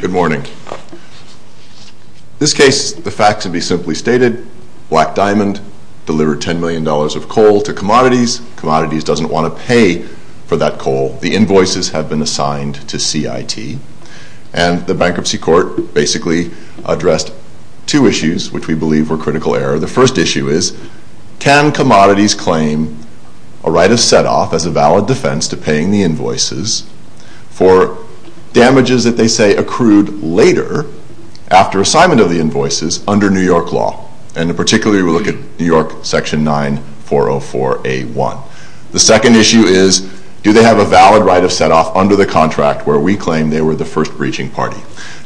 Good morning. This case, the facts would be simply stated, Black Diamond delivered $10 million of coal to Commodities. Commodities doesn't want to pay for that coal. The invoices have been assigned to CIT. And the Bankruptcy Court basically addressed two issues which we believe were critical error. The first issue is, can Commodities claim a right of set-off as a valid defense to paying the invoices for damages that they say accrued later after assignment of the invoices under New York law? And particularly we look at New York Section 9 404A1. The second issue is, do they have a valid right of set-off under the contract where we claim they were the first breaching party?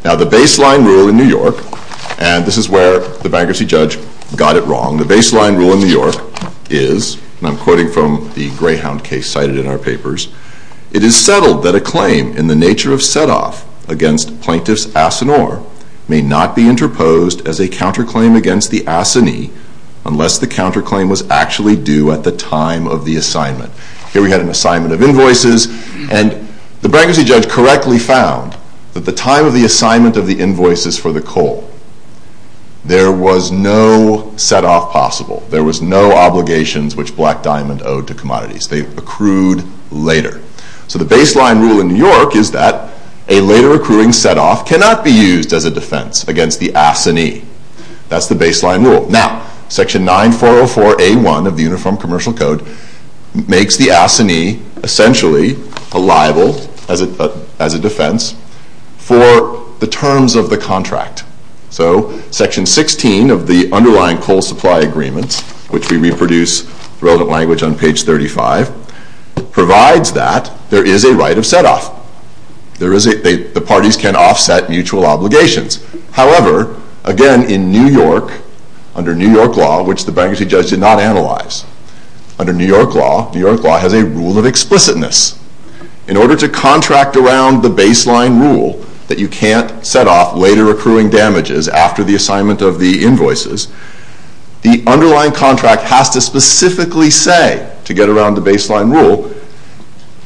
Now the baseline rule in New York, and this is where the bankruptcy judge got it wrong, the baseline rule in New York is, and I'm quoting from the Greyhound case cited in our papers, it is settled that a claim in the nature of set-off against Plaintiff's Asinore may not be interposed as a counterclaim against the Asinie unless the counterclaim was actually due at the time of the assignment. Here we had an assignment of invoices, and the bankruptcy judge correctly found that the time of the assignment of the invoices for the coal, there was no set-off possible. There was no obligations which Black Diamond owed to Commodities. They accrued later. So the baseline rule in New York is that a later accruing set-off cannot be used as a defense against the Asinie. That's the baseline rule. Now, Section 9404A1 of the Uniform Commercial Code makes the Asinie essentially a liable, as a defense, for the terms of the contract. So Section 16 of the underlying coal supply agreements, which we reproduce the relevant language on page 35, provides that there is a right of set-off. The parties can offset mutual obligations. However, again, in New York, under New York law, which the bankruptcy judge did not analyze, under New York law, New York law has a rule of explicitness. In order to contract around the baseline rule that you can't set off later accruing damages after the assignment of the invoices, the underlying contract has to specifically say, to get around the baseline rule,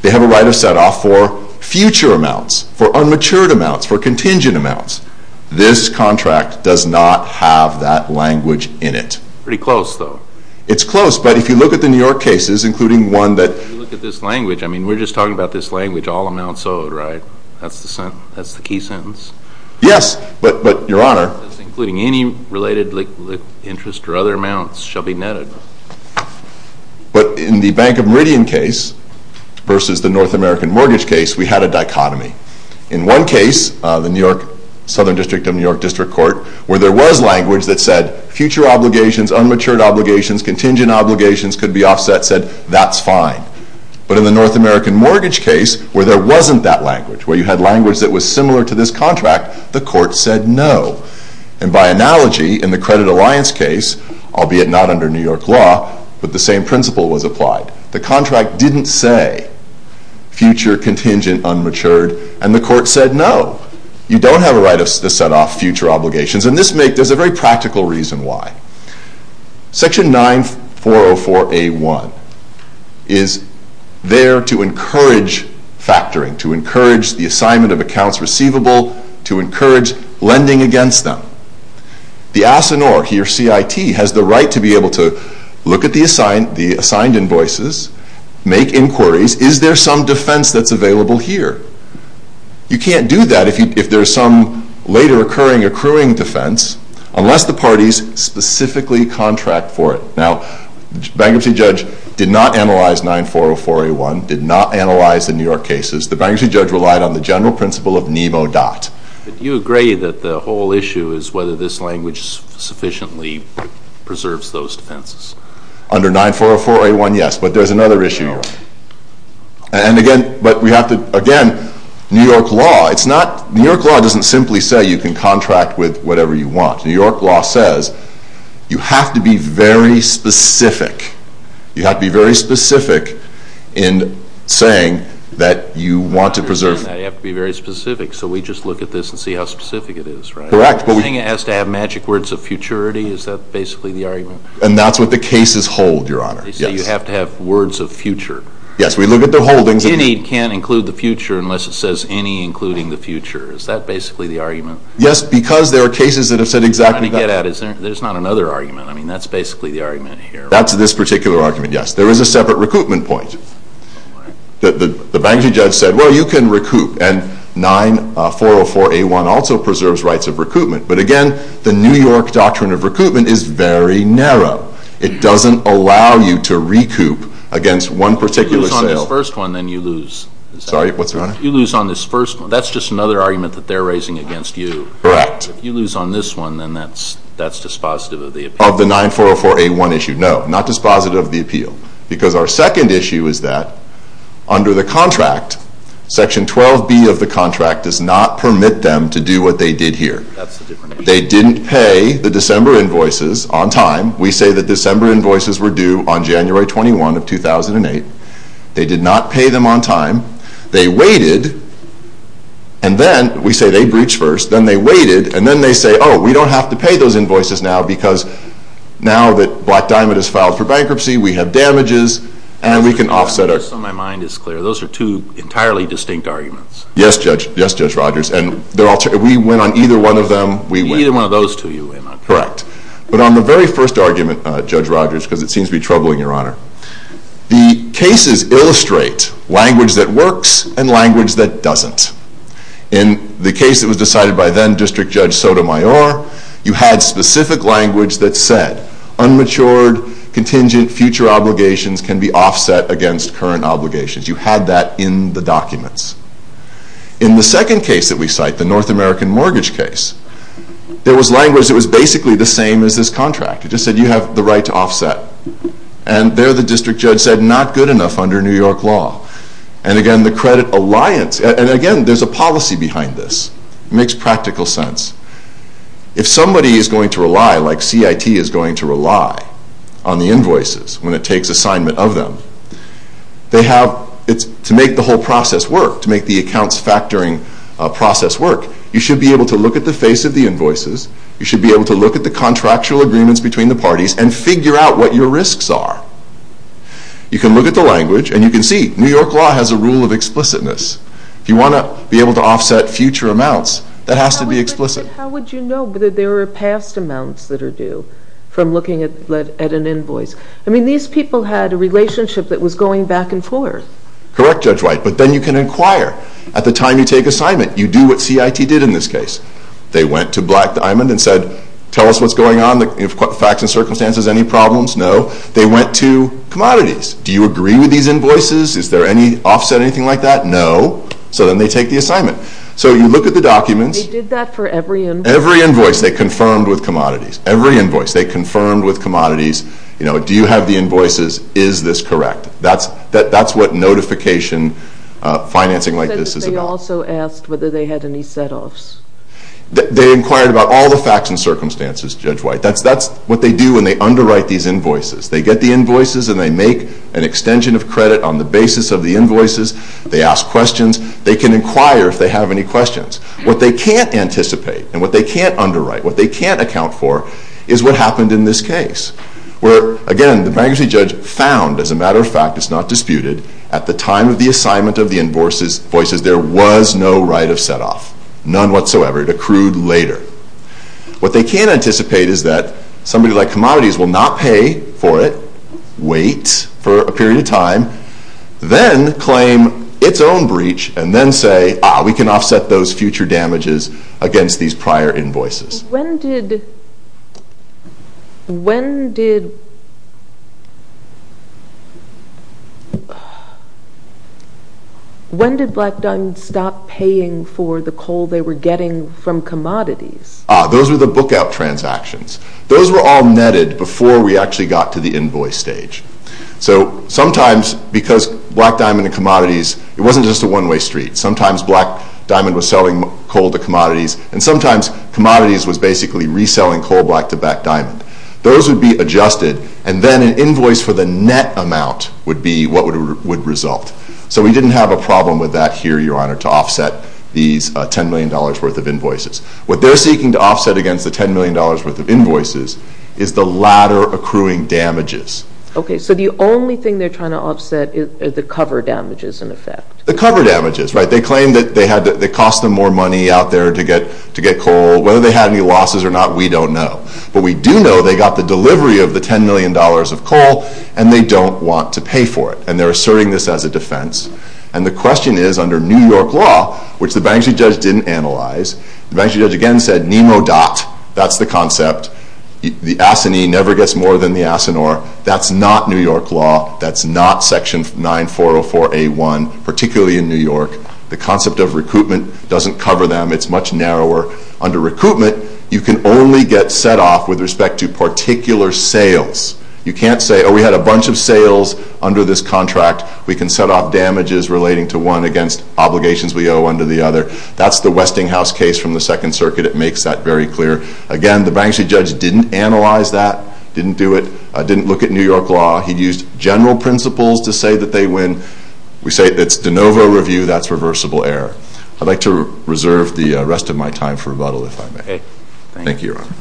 they have a right of set-off for future amounts, for unmatured amounts, for contingent amounts. This contract does not have that language in it. Pretty close, though. It's close, but if you look at the New York cases, including one that— If you look at this language, I mean, we're just talking about this language, all amounts owed, right? That's the key sentence? Yes, but, Your Honor— Including any related interest or other amounts shall be netted. But in the Bank of Meridian case versus the North American Mortgage case, we had a dichotomy. In one case, the Southern District of New York District Court, where there was language that said future obligations, unmatured obligations, contingent obligations could be offset, said that's fine. But in the North American Mortgage case, where there wasn't that language, where you had language that was similar to this contract, the court said no. And by analogy, in the Credit Alliance case, albeit not under New York law, but the same principle was applied. The contract didn't say future, contingent, unmatured, and the court said no. You don't have a right to set off future obligations, and there's a very practical reason why. Section 9404A1 is there to encourage factoring, to encourage the assignment of accounts receivable, to encourage lending against them. The ASINOR, here CIT, has the right to be able to look at the assigned invoices, make inquiries, is there some defense that's available here? You can't do that if there's some later occurring accruing defense, unless the parties specifically contract for it. Now, the bankruptcy judge did not analyze 9404A1, did not analyze the New York cases. The bankruptcy judge relied on the general principle of NEMO DOT. Do you agree that the whole issue is whether this language sufficiently preserves those defenses? Under 9404A1, yes, but there's another issue here. And again, but we have to, again, New York law, it's not, New York law doesn't simply say you can contract with whatever you want. New York law says you have to be very specific. You have to be very specific in saying that you want to preserve... You have to be very specific, so we just look at this and see how specific it is, right? Correct, but we... The thing it has to have magic words of futurity, is that basically the argument? And that's what the cases hold, Your Honor, yes. You have to have words of future. Yes, we look at the holdings... Any can include the future unless it says any including the future. Is that basically the argument? Yes, because there are cases that have said exactly that. Let me get at it. There's not another argument. I mean, that's basically the argument here, right? That's this particular argument, yes. There is a separate recoupment point. The bankruptcy judge said, well, you can recoup, and 9404A1 also preserves rights of recoupment. But again, the New York doctrine of recoupment is very narrow. It doesn't allow you to recoup against one particular sale. If you lose on this first one, then you lose. Sorry, what's that, Your Honor? If you lose on this first one, that's just another argument that they're raising against you. Correct. If you lose on this one, then that's dispositive of the appeal. Of the 9404A1 issue, no, not dispositive of the appeal. Because our second issue is that under the contract, section 12B of the contract does not permit them to do what they did here. That's a different issue. They didn't pay the December invoices on time. We say the December invoices were due on January 21 of 2008. They did not pay them on time. They waited, and then, we say they breached first. Then they waited, and then they say, oh, we don't have to pay those invoices now because now that Black Diamond is filed for bankruptcy, we have damages, and we can offset. Just so my mind is clear, those are two entirely distinct arguments. Yes, Judge. Yes, Judge Rogers. We went on either one of them. Either one of those two you went on. Correct. But on the very first argument, Judge Rogers, because it seems to be troubling, Your Honor, the cases illustrate language that works and language that doesn't. In the case that was decided by then, District Judge Sotomayor, you had specific language that said unmatured, contingent future obligations can be offset against current obligations. You had that in the documents. In the second case that we cite, the North American mortgage case, there was language that was basically the same as this contract. It just said you have the right to offset. And there, the District Judge said not good enough under New York law. And again, the credit alliance, and again, there's a policy behind this. It makes practical sense. If somebody is going to rely, like CIT is going to rely on the invoices when it takes assignment of them, to make the whole process work, to make the accounts factoring process work, you should be able to look at the face of the invoices. You should be able to look at the contractual agreements between the parties and figure out what your risks are. You can look at the language, and you can see New York law has a rule of explicitness. If you want to be able to offset future amounts, that has to be explicit. How would you know that there are past amounts that are due from looking at an invoice? I mean, these people had a relationship that was going back and forth. Correct, Judge White. But then you can inquire. At the time you take assignment, you do what CIT did in this case. They went to Black Diamond and said, tell us what's going on, facts and circumstances, any problems? No. They went to commodities. Do you agree with these invoices? Is there any offset, anything like that? No. So then they take the assignment. So you look at the documents. They did that for every invoice? Every invoice. They confirmed with commodities. Every invoice. They confirmed with commodities, you know, do you have the invoices? Is this correct? That's what notification financing like this is about. They also asked whether they had any set-offs. They inquired about all the facts and circumstances, Judge White. That's what they do when they underwrite these invoices. They get the invoices, and they make an extension of credit on the basis of the invoices. They ask questions. They can inquire if they have any questions. What they can't anticipate and what they can't underwrite, what they can't account for, is what happened in this case. Where, again, the bankruptcy judge found, as a matter of fact, it's not disputed, at the time of the assignment of the invoices, there was no right of set-off. None whatsoever. It accrued later. What they can anticipate is that somebody like commodities will not pay for it, wait for a period of time, then claim its own breach and then say, ah, we can offset those future damages against these prior invoices. When did Black Diamond stop paying for the coal they were getting from commodities? Those were the book-out transactions. Those were all netted before we actually got to the invoice stage. So sometimes, because Black Diamond and commodities, it wasn't just a one-way street. Sometimes Black Diamond was selling coal to commodities, and sometimes commodities was basically reselling coal back to Black Diamond. Those would be adjusted, and then an invoice for the net amount would be what would result. So we didn't have a problem with that here, Your Honor, to offset these $10 million worth of invoices. What they're seeking to offset against the $10 million worth of invoices is the latter accruing damages. Okay, so the only thing they're trying to offset is the cover damages, in effect. The cover damages, right. They claim that they cost them more money out there to get coal. Whether they had any losses or not, we don't know. But we do know they got the delivery of the $10 million of coal, and they don't want to pay for it. And they're asserting this as a defense. And the question is, under New York law, which the bankruptcy judge didn't analyze, the bankruptcy judge again said, NEMO DOT, that's the concept. The ASINEE never gets more than the ASINOR. That's not New York law. That's not Section 9404A1, particularly in New York. The concept of recoupment doesn't cover them. It's much narrower. Under recoupment, you can only get set off with respect to particular sales. You can't say, oh, we had a bunch of sales under this contract. We can set off damages relating to one against obligations we owe under the other. That's the Westinghouse case from the Second Circuit. It makes that very clear. Again, the bankruptcy judge didn't analyze that, didn't do it, didn't look at New York law. He used general principles to say that they win. We say it's de novo review. That's reversible error. I'd like to reserve the rest of my time for rebuttal, if I may. Thank you, Your Honor.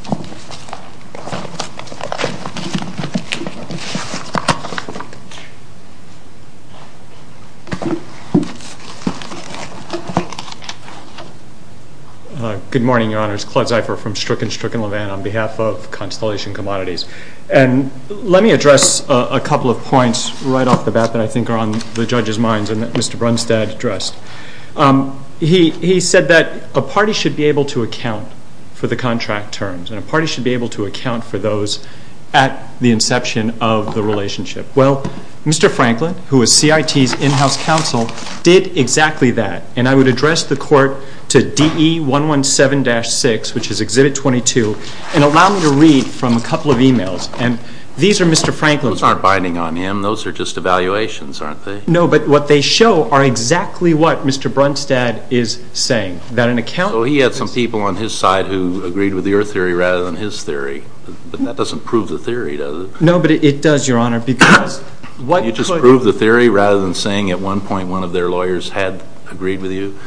Good morning, Your Honors. Claude Zipher from Stricken, Stricken, Levin on behalf of Constellation Commodities. And let me address a couple of points right off the bat that I think are on the judge's minds and that Mr. Brunstad addressed. He said that a party should be able to account for the contract terms and a party should be able to account for those at the inception of the relationship. Well, Mr. Franklin, who is CIT's in-house counsel, did exactly that. And I would address the court to DE 117-6, which is Exhibit 22, and allow me to read from a couple of e-mails. And these are Mr. Franklin's. Those aren't binding on him. Those are just evaluations, aren't they? No, but what they show are exactly what Mr. Brunstad is saying, that an account So he had some people on his side who agreed with your theory rather than his theory. But that doesn't prove the theory, does it? No, but it does, Your Honor, because what You just proved the theory rather than saying at one point one of their lawyers had agreed with you?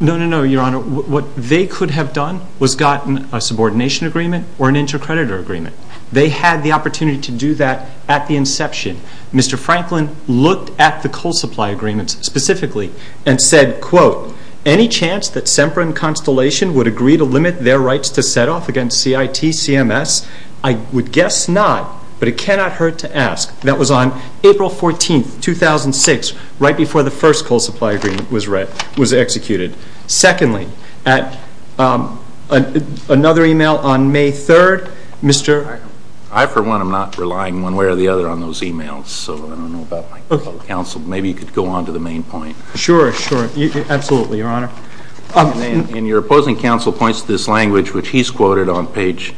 No, no, no, Your Honor. What they could have done was gotten a subordination agreement or an intercreditor agreement. They had the opportunity to do that at the inception. Mr. Franklin looked at the coal supply agreements specifically and said, quote, Any chance that Semper and Constellation would agree to limit their rights to set off against CIT, CMS? I would guess not, but it cannot hurt to ask. That was on April 14th, 2006, right before the first coal supply agreement was executed. Secondly, another email on May 3rd, Mr. I for one am not relying one way or the other on those emails, so I don't know about my fellow counsel. Maybe you could go on to the main point. Sure, sure. Absolutely, Your Honor. And your opposing counsel points to this language, which he's quoted on page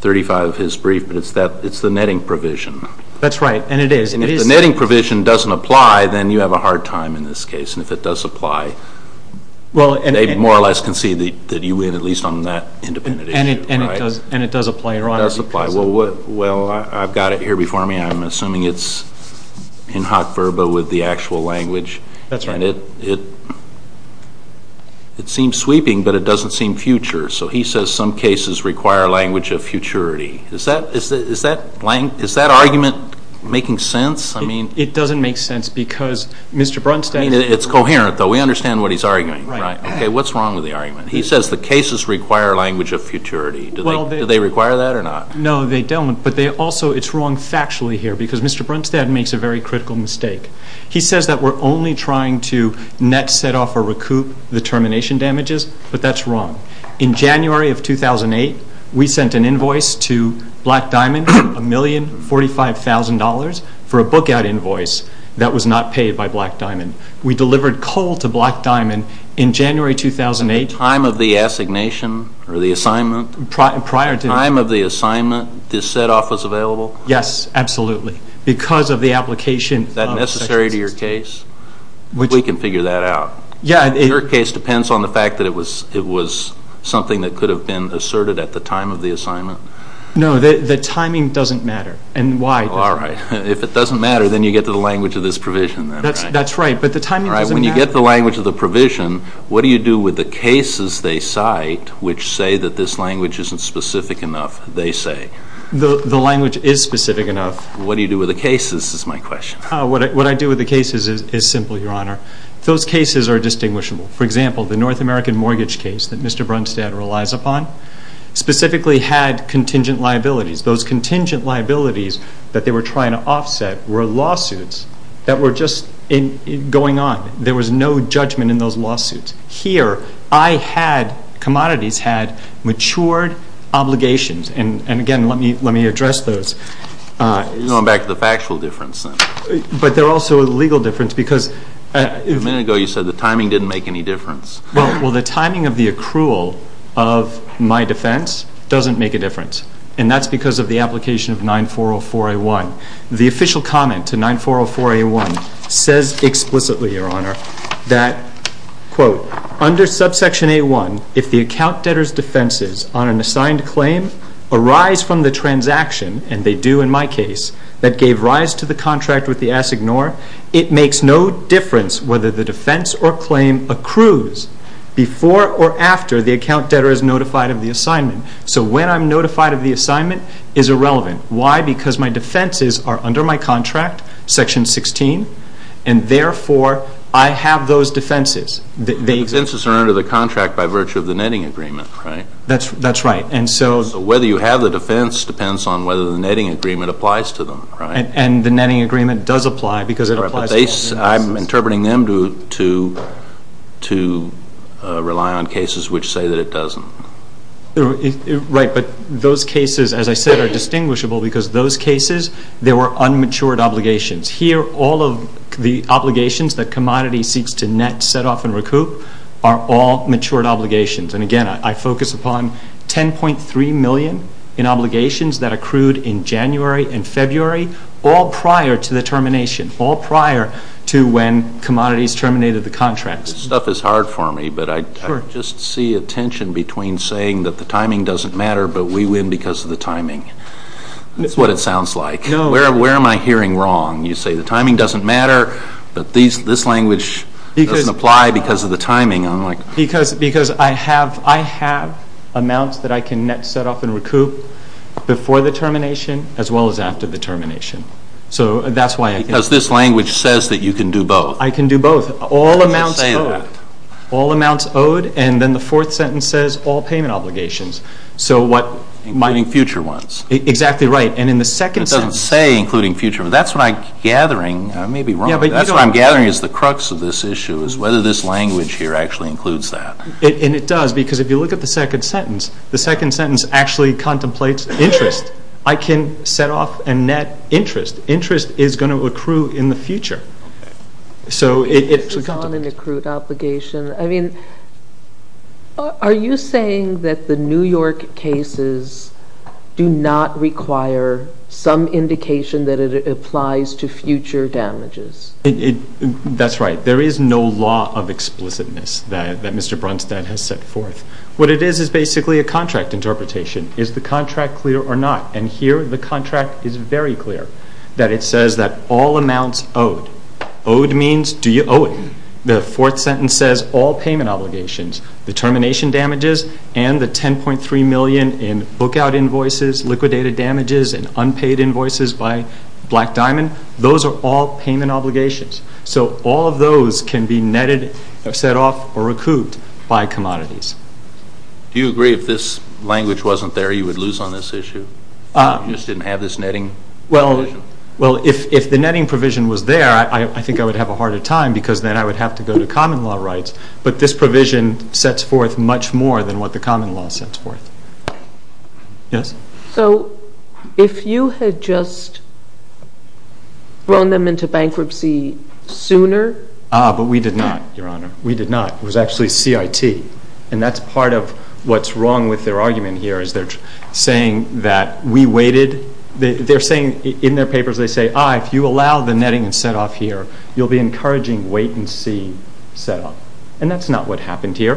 35 of his brief, but it's the netting provision. That's right, and it is. And if the netting provision doesn't apply, then you have a hard time in this case. And if it does apply, they more or less can see that you win, at least on that independent issue, right? And it does apply, Your Honor. It does apply. Well, I've got it here before me. I'm assuming it's in hot verba with the actual language. That's right. And it seems sweeping, but it doesn't seem future. So he says some cases require language of futurity. Is that argument making sense? It doesn't make sense because Mr. Brunstad. It's coherent, though. We understand what he's arguing. Right. Okay, what's wrong with the argument? He says the cases require language of futurity. Do they require that or not? No, they don't, but also it's wrong factually here because Mr. Brunstad makes a very critical mistake. He says that we're only trying to net, set off, or recoup the termination damages, but that's wrong. In January of 2008, we sent an invoice to Black Diamond, $1,045,000, for a book-out invoice that was not paid by Black Diamond. We delivered coal to Black Diamond in January 2008. At the time of the assignation or the assignment? Prior to that. At the time of the assignment, this set-off was available? Yes, absolutely, because of the application. Is that necessary to your case? We can figure that out. Your case depends on the fact that it was something that could have been asserted at the time of the assignment? No, the timing doesn't matter, and why? All right. If it doesn't matter, then you get to the language of this provision. That's right, but the timing doesn't matter. When you get the language of the provision, what do you do with the cases they cite which say that this language isn't specific enough, they say? The language is specific enough. What do you do with the cases, is my question. What I do with the cases is simple, Your Honor. Those cases are distinguishable. For example, the North American mortgage case that Mr. Brunstad relies upon specifically had contingent liabilities. Those contingent liabilities that they were trying to offset were lawsuits that were just going on. There was no judgment in those lawsuits. Here, commodities had matured obligations, and again, let me address those. You're going back to the factual difference then. But they're also a legal difference because… A minute ago you said the timing didn't make any difference. Well, the timing of the accrual of my defense doesn't make a difference, and that's because of the application of 9404A1. The official comment to 9404A1 says explicitly, Your Honor, that, quote, it makes no difference whether the defense or claim accrues before or after the account debtor is notified of the assignment. So when I'm notified of the assignment is irrelevant. Why? Because my defenses are under my contract, Section 16, and therefore I have those defenses. The defenses are under the contract by virtue of the netting agreement, right? That's right. So whether you have the defense depends on whether the netting agreement applies to them, right? And the netting agreement does apply because it applies… I'm interpreting them to rely on cases which say that it doesn't. Right, but those cases, as I said, are distinguishable because those cases, there were unmatured obligations. Here, all of the obligations that commodities seeks to net, set off, and recoup are all matured obligations. And, again, I focus upon 10.3 million in obligations that accrued in January and February, all prior to the termination, all prior to when commodities terminated the contracts. This stuff is hard for me, but I just see a tension between saying that the timing doesn't matter, but we win because of the timing. That's what it sounds like. No. Where am I hearing wrong? You say the timing doesn't matter, but this language doesn't apply because of the timing. Because I have amounts that I can net, set off, and recoup before the termination as well as after the termination. Because this language says that you can do both. I can do both. All amounts owed, and then the fourth sentence says all payment obligations. Including future ones. Exactly right. And in the second sentence… It doesn't say including future ones. That's what I'm gathering. I may be wrong. That's what I'm gathering is the crux of this issue is whether this language here actually includes that. And it does, because if you look at the second sentence, the second sentence actually contemplates interest. I can set off a net interest. Interest is going to accrue in the future. Okay. Some indication that it applies to future damages. That's right. There is no law of explicitness that Mr. Brunstad has set forth. What it is is basically a contract interpretation. Is the contract clear or not? And here the contract is very clear. That it says that all amounts owed. Owed means do you owe it? The fourth sentence says all payment obligations. The termination damages and the $10.3 million in book out invoices, liquidated damages, and unpaid invoices by Black Diamond, those are all payment obligations. So all of those can be netted, set off, or accrued by commodities. Do you agree if this language wasn't there you would lose on this issue? You just didn't have this netting provision? Well, if the netting provision was there, I think I would have a harder time, because then I would have to go to common law rights. But this provision sets forth much more than what the common law sets forth. Yes? So if you had just thrown them into bankruptcy sooner? Ah, but we did not, Your Honor. We did not. It was actually CIT. And that's part of what's wrong with their argument here is they're saying that we waited. In their papers they say, ah, if you allow the netting and set off here, you'll be encouraging wait and see set off. And that's not what happened here.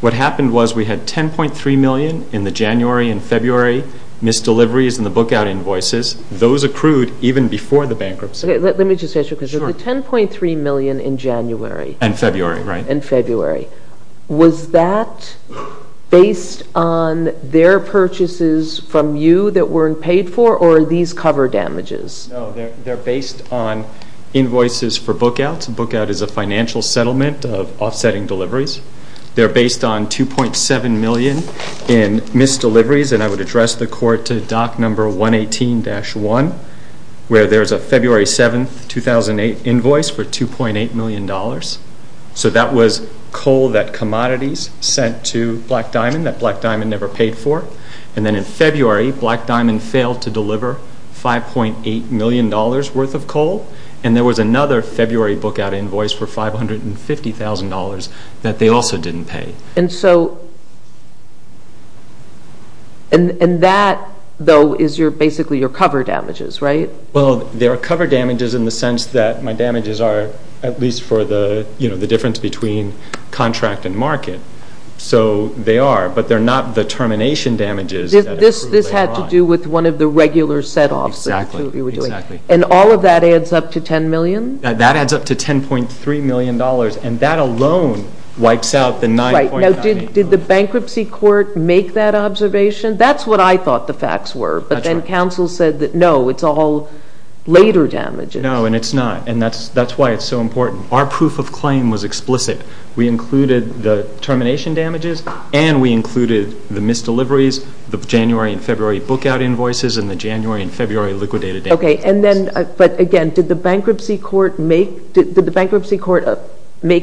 What happened was we had $10.3 million in the January and February misdeliveries and the book out invoices. Those accrued even before the bankruptcy. Let me just ask you a question. Sure. The $10.3 million in January. And February, right. And February. Was that based on their purchases from you that weren't paid for? Or are these cover damages? No, they're based on invoices for book outs. Book out is a financial settlement of offsetting deliveries. They're based on $2.7 million in misdeliveries. And I would address the court to doc number 118-1, where there's a February 7, 2008 invoice for $2.8 million. So that was coal that commodities sent to Black Diamond that Black Diamond never paid for. And then in February, Black Diamond failed to deliver $5.8 million worth of coal. And there was another February book out invoice for $550,000 that they also didn't pay. And that, though, is basically your cover damages, right? Well, they're cover damages in the sense that my damages are at least for the difference between contract and market. So they are. But they're not the termination damages. This had to do with one of the regular set-offs. Exactly. And all of that adds up to $10 million? That adds up to $10.3 million. And that alone wipes out the $9.98 million. Right. Now, did the bankruptcy court make that observation? That's what I thought the facts were. That's right. And then counsel said that, no, it's all later damages. No, and it's not. And that's why it's so important. Our proof of claim was explicit. We included the termination damages, and we included the misdeliveries, the January and February book out invoices, and the January and February liquidated damages. Okay. But, again, did the bankruptcy court make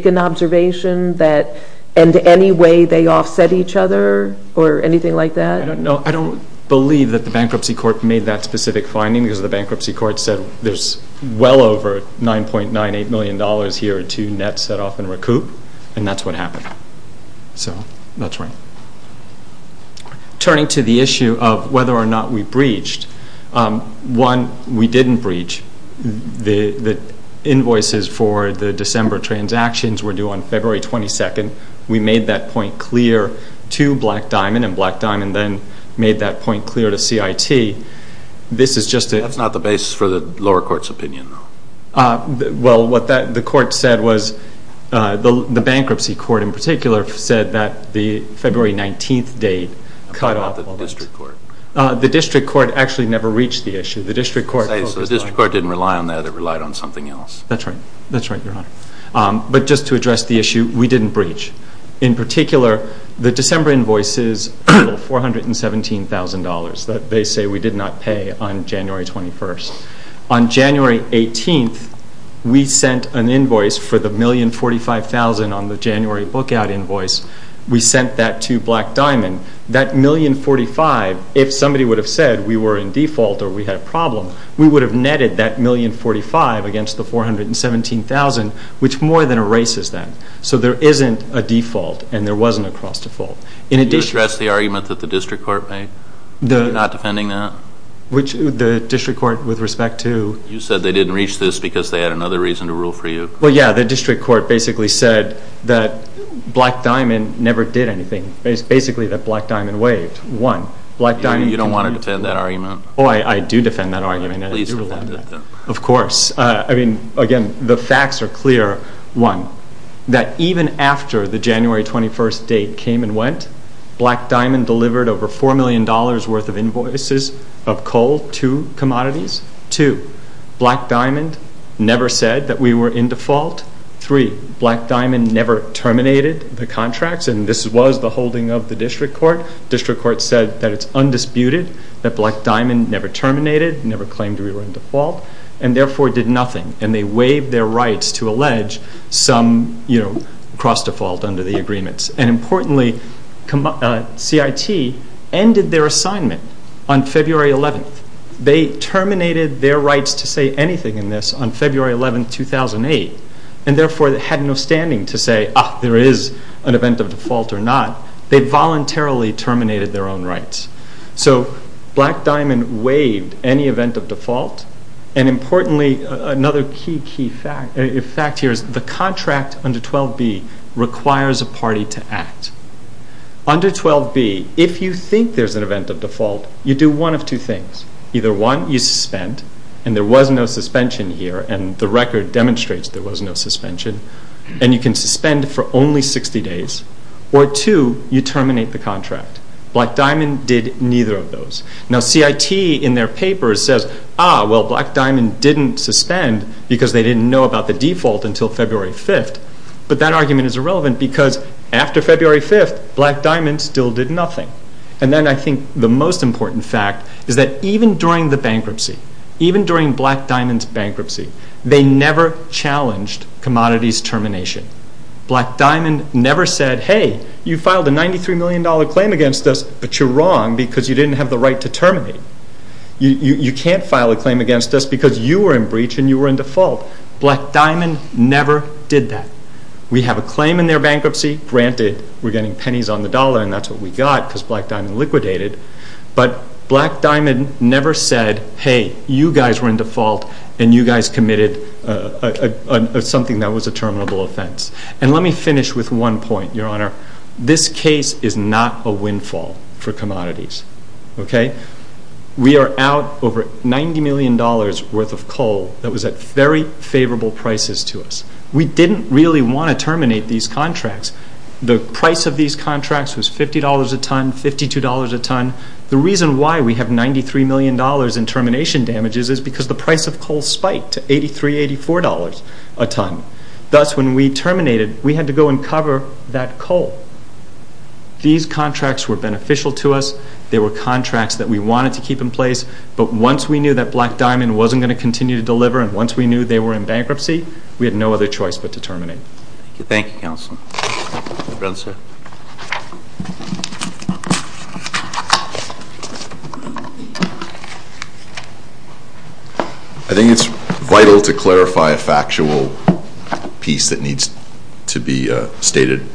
an observation that in any way they offset each other or anything like that? I don't know. I don't believe that the bankruptcy court made that specific finding because the bankruptcy court said there's well over $9.98 million here to net set-off and recoup, and that's what happened. So that's right. Turning to the issue of whether or not we breached, one, we didn't breach. The invoices for the December transactions were due on February 22nd. We made that point clear to Black Diamond, and Black Diamond then made that point clear to CIT. That's not the basis for the lower court's opinion, though. Well, what the court said was the bankruptcy court in particular said that the February 19th date cut off. The district court. The district court actually never reached the issue. The district court didn't rely on that. It relied on something else. That's right. That's right, Your Honor. But just to address the issue, we didn't breach. In particular, the December invoices total $417,000 that they say we did not pay on January 21st. On January 18th, we sent an invoice for the $1,045,000 on the January book-out invoice. We sent that to Black Diamond. That $1,045,000, if somebody would have said we were in default or we had a problem, we would have netted that $1,045,000 against the $417,000, which more than erases that. So there isn't a default, and there wasn't a cross-default. Did you address the argument that the district court made? Not defending that? The district court with respect to? You said they didn't reach this because they had another reason to rule for you. Well, yeah. The district court basically said that Black Diamond never did anything. It's basically that Black Diamond waived. One. You don't want to defend that argument? Oh, I do defend that argument. Of course. I mean, again, the facts are clear. One, that even after the January 21st date came and went, Black Diamond delivered over $4 million worth of invoices of coal to commodities. Two, Black Diamond never said that we were in default. Three, Black Diamond never terminated the contracts, and this was the holding of the district court. District court said that it's undisputed that Black Diamond never terminated, never claimed we were in default, and therefore did nothing, and they waived their rights to allege some cross-default under the agreements. And importantly, CIT ended their assignment on February 11th. They terminated their rights to say anything in this on February 11th, 2008, and therefore had no standing to say, ah, there is an event of default or not. They voluntarily terminated their own rights. So Black Diamond waived any event of default. And importantly, another key, key fact here is the contract under 12B requires a party to act. Under 12B, if you think there's an event of default, you do one of two things. Either one, you suspend, and there was no suspension here, and the record demonstrates there was no suspension, and you can suspend for only 60 days. Or two, you terminate the contract. Black Diamond did neither of those. Now CIT in their paper says, ah, well, Black Diamond didn't suspend because they didn't know about the default until February 5th, but that argument is irrelevant because after February 5th, Black Diamond still did nothing. And then I think the most important fact is that even during the bankruptcy, even during Black Diamond's bankruptcy, they never challenged commodities termination. Black Diamond never said, hey, you filed a $93 million claim against us, but you're wrong because you didn't have the right to terminate. You can't file a claim against us because you were in breach and you were in default. Black Diamond never did that. We have a claim in their bankruptcy. Granted, we're getting pennies on the dollar, and that's what we got because Black Diamond liquidated. And you guys committed something that was a terminable offense. And let me finish with one point, Your Honor. This case is not a windfall for commodities, okay? We are out over $90 million worth of coal that was at very favorable prices to us. We didn't really want to terminate these contracts. The price of these contracts was $50 a ton, $52 a ton. The reason why we have $93 million in termination damages is because the price of coal spiked to $83, $84 a ton. Thus, when we terminated, we had to go and cover that coal. These contracts were beneficial to us. They were contracts that we wanted to keep in place, but once we knew that Black Diamond wasn't going to continue to deliver and once we knew they were in bankruptcy, we had no other choice but to terminate. Thank you, counsel. I think it's vital to clarify a factual piece that needs to be stated.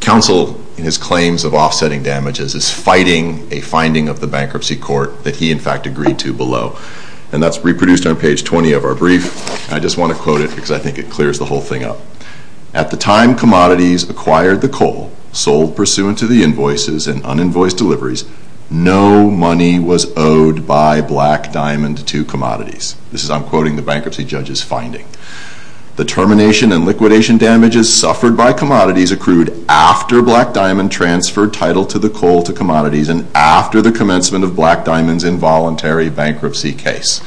Counsel, in his claims of offsetting damages, is fighting a finding of the bankruptcy court that he, in fact, agreed to below. And that's reproduced on page 20 of our brief. I just want to quote it because I think it clears the whole thing up. At the time commodities acquired the coal, sold pursuant to the invoices and un-invoiced deliveries, no money was owed by Black Diamond to commodities. This is, I'm quoting, the bankruptcy judge's finding. The termination and liquidation damages suffered by commodities accrued after Black Diamond transferred title to the coal to commodities and after the commencement of Black Diamond's involuntary bankruptcy case.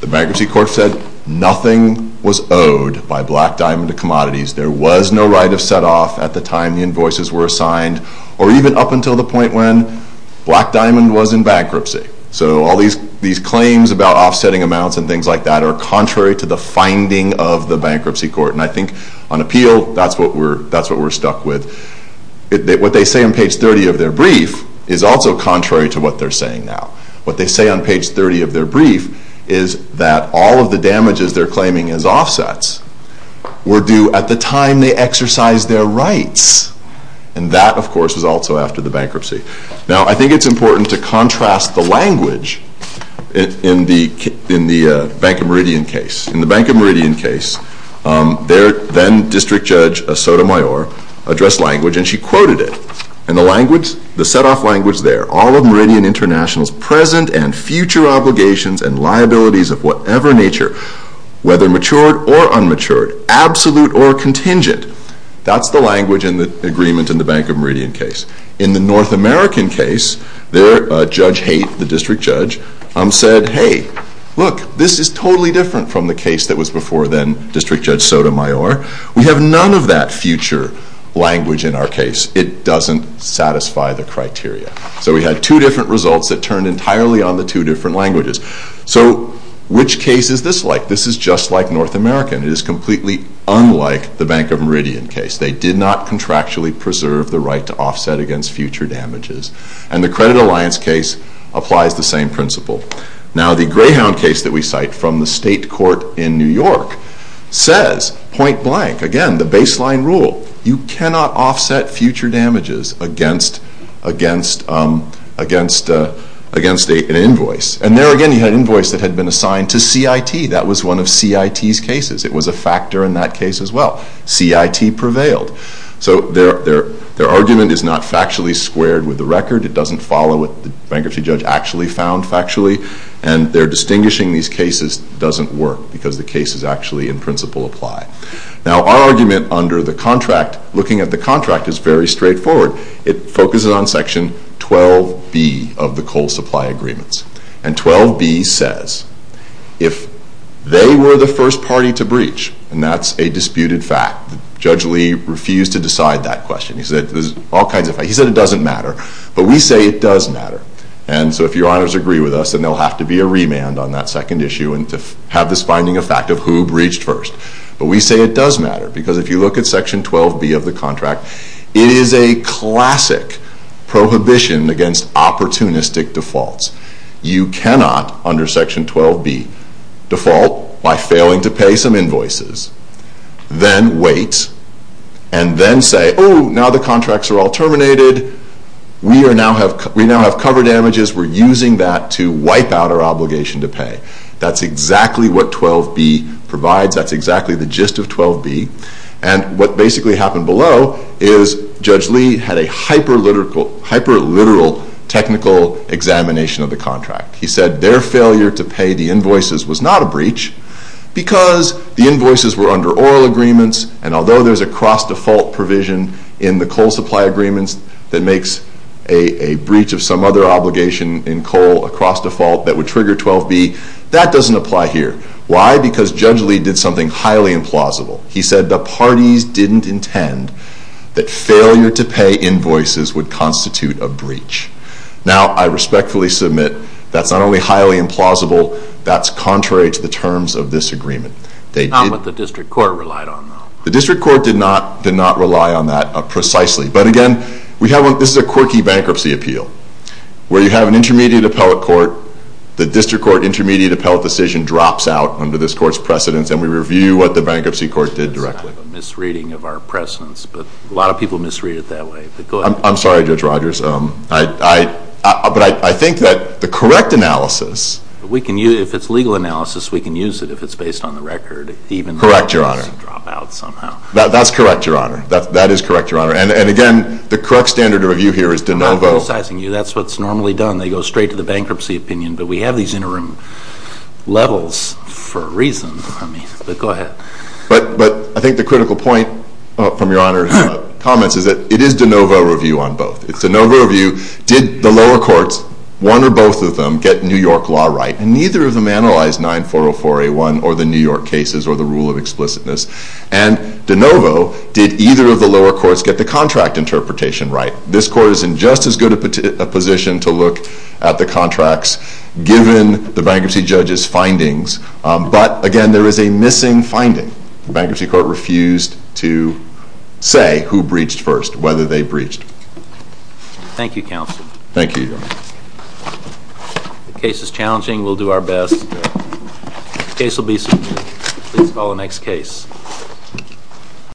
The bankruptcy court said nothing was owed by Black Diamond to commodities. There was no right of set-off at the time the invoices were assigned or even up until the point when Black Diamond was in bankruptcy. So all these claims about offsetting amounts and things like that are contrary to the finding of the bankruptcy court. And I think on appeal, that's what we're stuck with. What they say on page 30 of their brief is also contrary to what they're saying now. What they say on page 30 of their brief is that all of the damages they're claiming as offsets were due at the time they exercised their rights. And that, of course, is also after the bankruptcy. Now, I think it's important to contrast the language in the Bank of Meridian case. In the Bank of Meridian case, their then district judge, Sotomayor, addressed language and she quoted it. And the language, the set-off language there, all of Meridian International's present and future obligations and liabilities of whatever nature, whether matured or unmatured, absolute or contingent, that's the language in the agreement in the Bank of Meridian case. In the North American case, their judge Haight, the district judge, said, hey, look, this is totally different from the case that was before then district judge Sotomayor. We have none of that future language in our case. It doesn't satisfy the criteria. So we had two different results that turned entirely on the two different languages. So which case is this like? This is just like North American. It is completely unlike the Bank of Meridian case. They did not contractually preserve the right to offset against future damages. And the Credit Alliance case applies the same principle. Now, the Greyhound case that we cite from the state court in New York says, point blank, again, the baseline rule. You cannot offset future damages against an invoice. And there again you had an invoice that had been assigned to CIT. That was one of CIT's cases. It was a factor in that case as well. CIT prevailed. So their argument is not factually squared with the record. It doesn't follow what the bankruptcy judge actually found factually. And their distinguishing these cases doesn't work because the cases actually in principle apply. Now, our argument under the contract, looking at the contract, is very straightforward. It focuses on Section 12B of the coal supply agreements. And 12B says, if they were the first party to breach, and that's a disputed fact. Judge Lee refused to decide that question. He said there's all kinds of facts. He said it doesn't matter. But we say it does matter. And so if your honors agree with us, then there will have to be a remand on that second issue and to have this finding a fact of who breached first. But we say it does matter because if you look at Section 12B of the contract, it is a classic prohibition against opportunistic defaults. You cannot, under Section 12B, default by failing to pay some invoices, then wait, and then say, oh, now the contracts are all terminated. We now have cover damages. We're using that to wipe out our obligation to pay. That's exactly what 12B provides. That's exactly the gist of 12B. And what basically happened below is Judge Lee had a hyper-literal technical examination of the contract. He said their failure to pay the invoices was not a breach because the invoices were under oral agreements, and although there's a cross-default provision in the coal supply agreements that makes a breach of some other obligation in coal a cross-default that would trigger 12B, that doesn't apply here. Why? Because Judge Lee did something highly implausible. He said the parties didn't intend that failure to pay invoices would constitute a breach. Now, I respectfully submit that's not only highly implausible, that's contrary to the terms of this agreement. Not what the district court relied on, though. The district court did not rely on that precisely. But again, this is a quirky bankruptcy appeal where you have an intermediate appellate court, the district court intermediate appellate decision drops out under this court's precedence, and we review what the bankruptcy court did directly. I have a misreading of our precedence, but a lot of people misread it that way. I'm sorry, Judge Rogers. But I think that the correct analysis. If it's legal analysis, we can use it if it's based on the record. Correct, Your Honor. Even if it doesn't drop out somehow. That's correct, Your Honor. That is correct, Your Honor. And again, the correct standard of review here is de novo. I'm not criticizing you. That's what's normally done. They go straight to the bankruptcy opinion, but we have these interim levels for a reason. I mean, but go ahead. But I think the critical point from Your Honor's comments is that it is de novo review on both. It's de novo review, did the lower courts, one or both of them, get New York law right? And neither of them analyzed 9404A1 or the New York cases or the rule of explicitness. And de novo, did either of the lower courts get the contract interpretation right? This court is in just as good a position to look at the contracts given the bankruptcy judge's findings. But again, there is a missing finding. The bankruptcy court refused to say who breached first, whether they breached. Thank you, Counsel. Thank you, Your Honor. The case is challenging. We'll do our best. The case will be submitted. Please call the next case.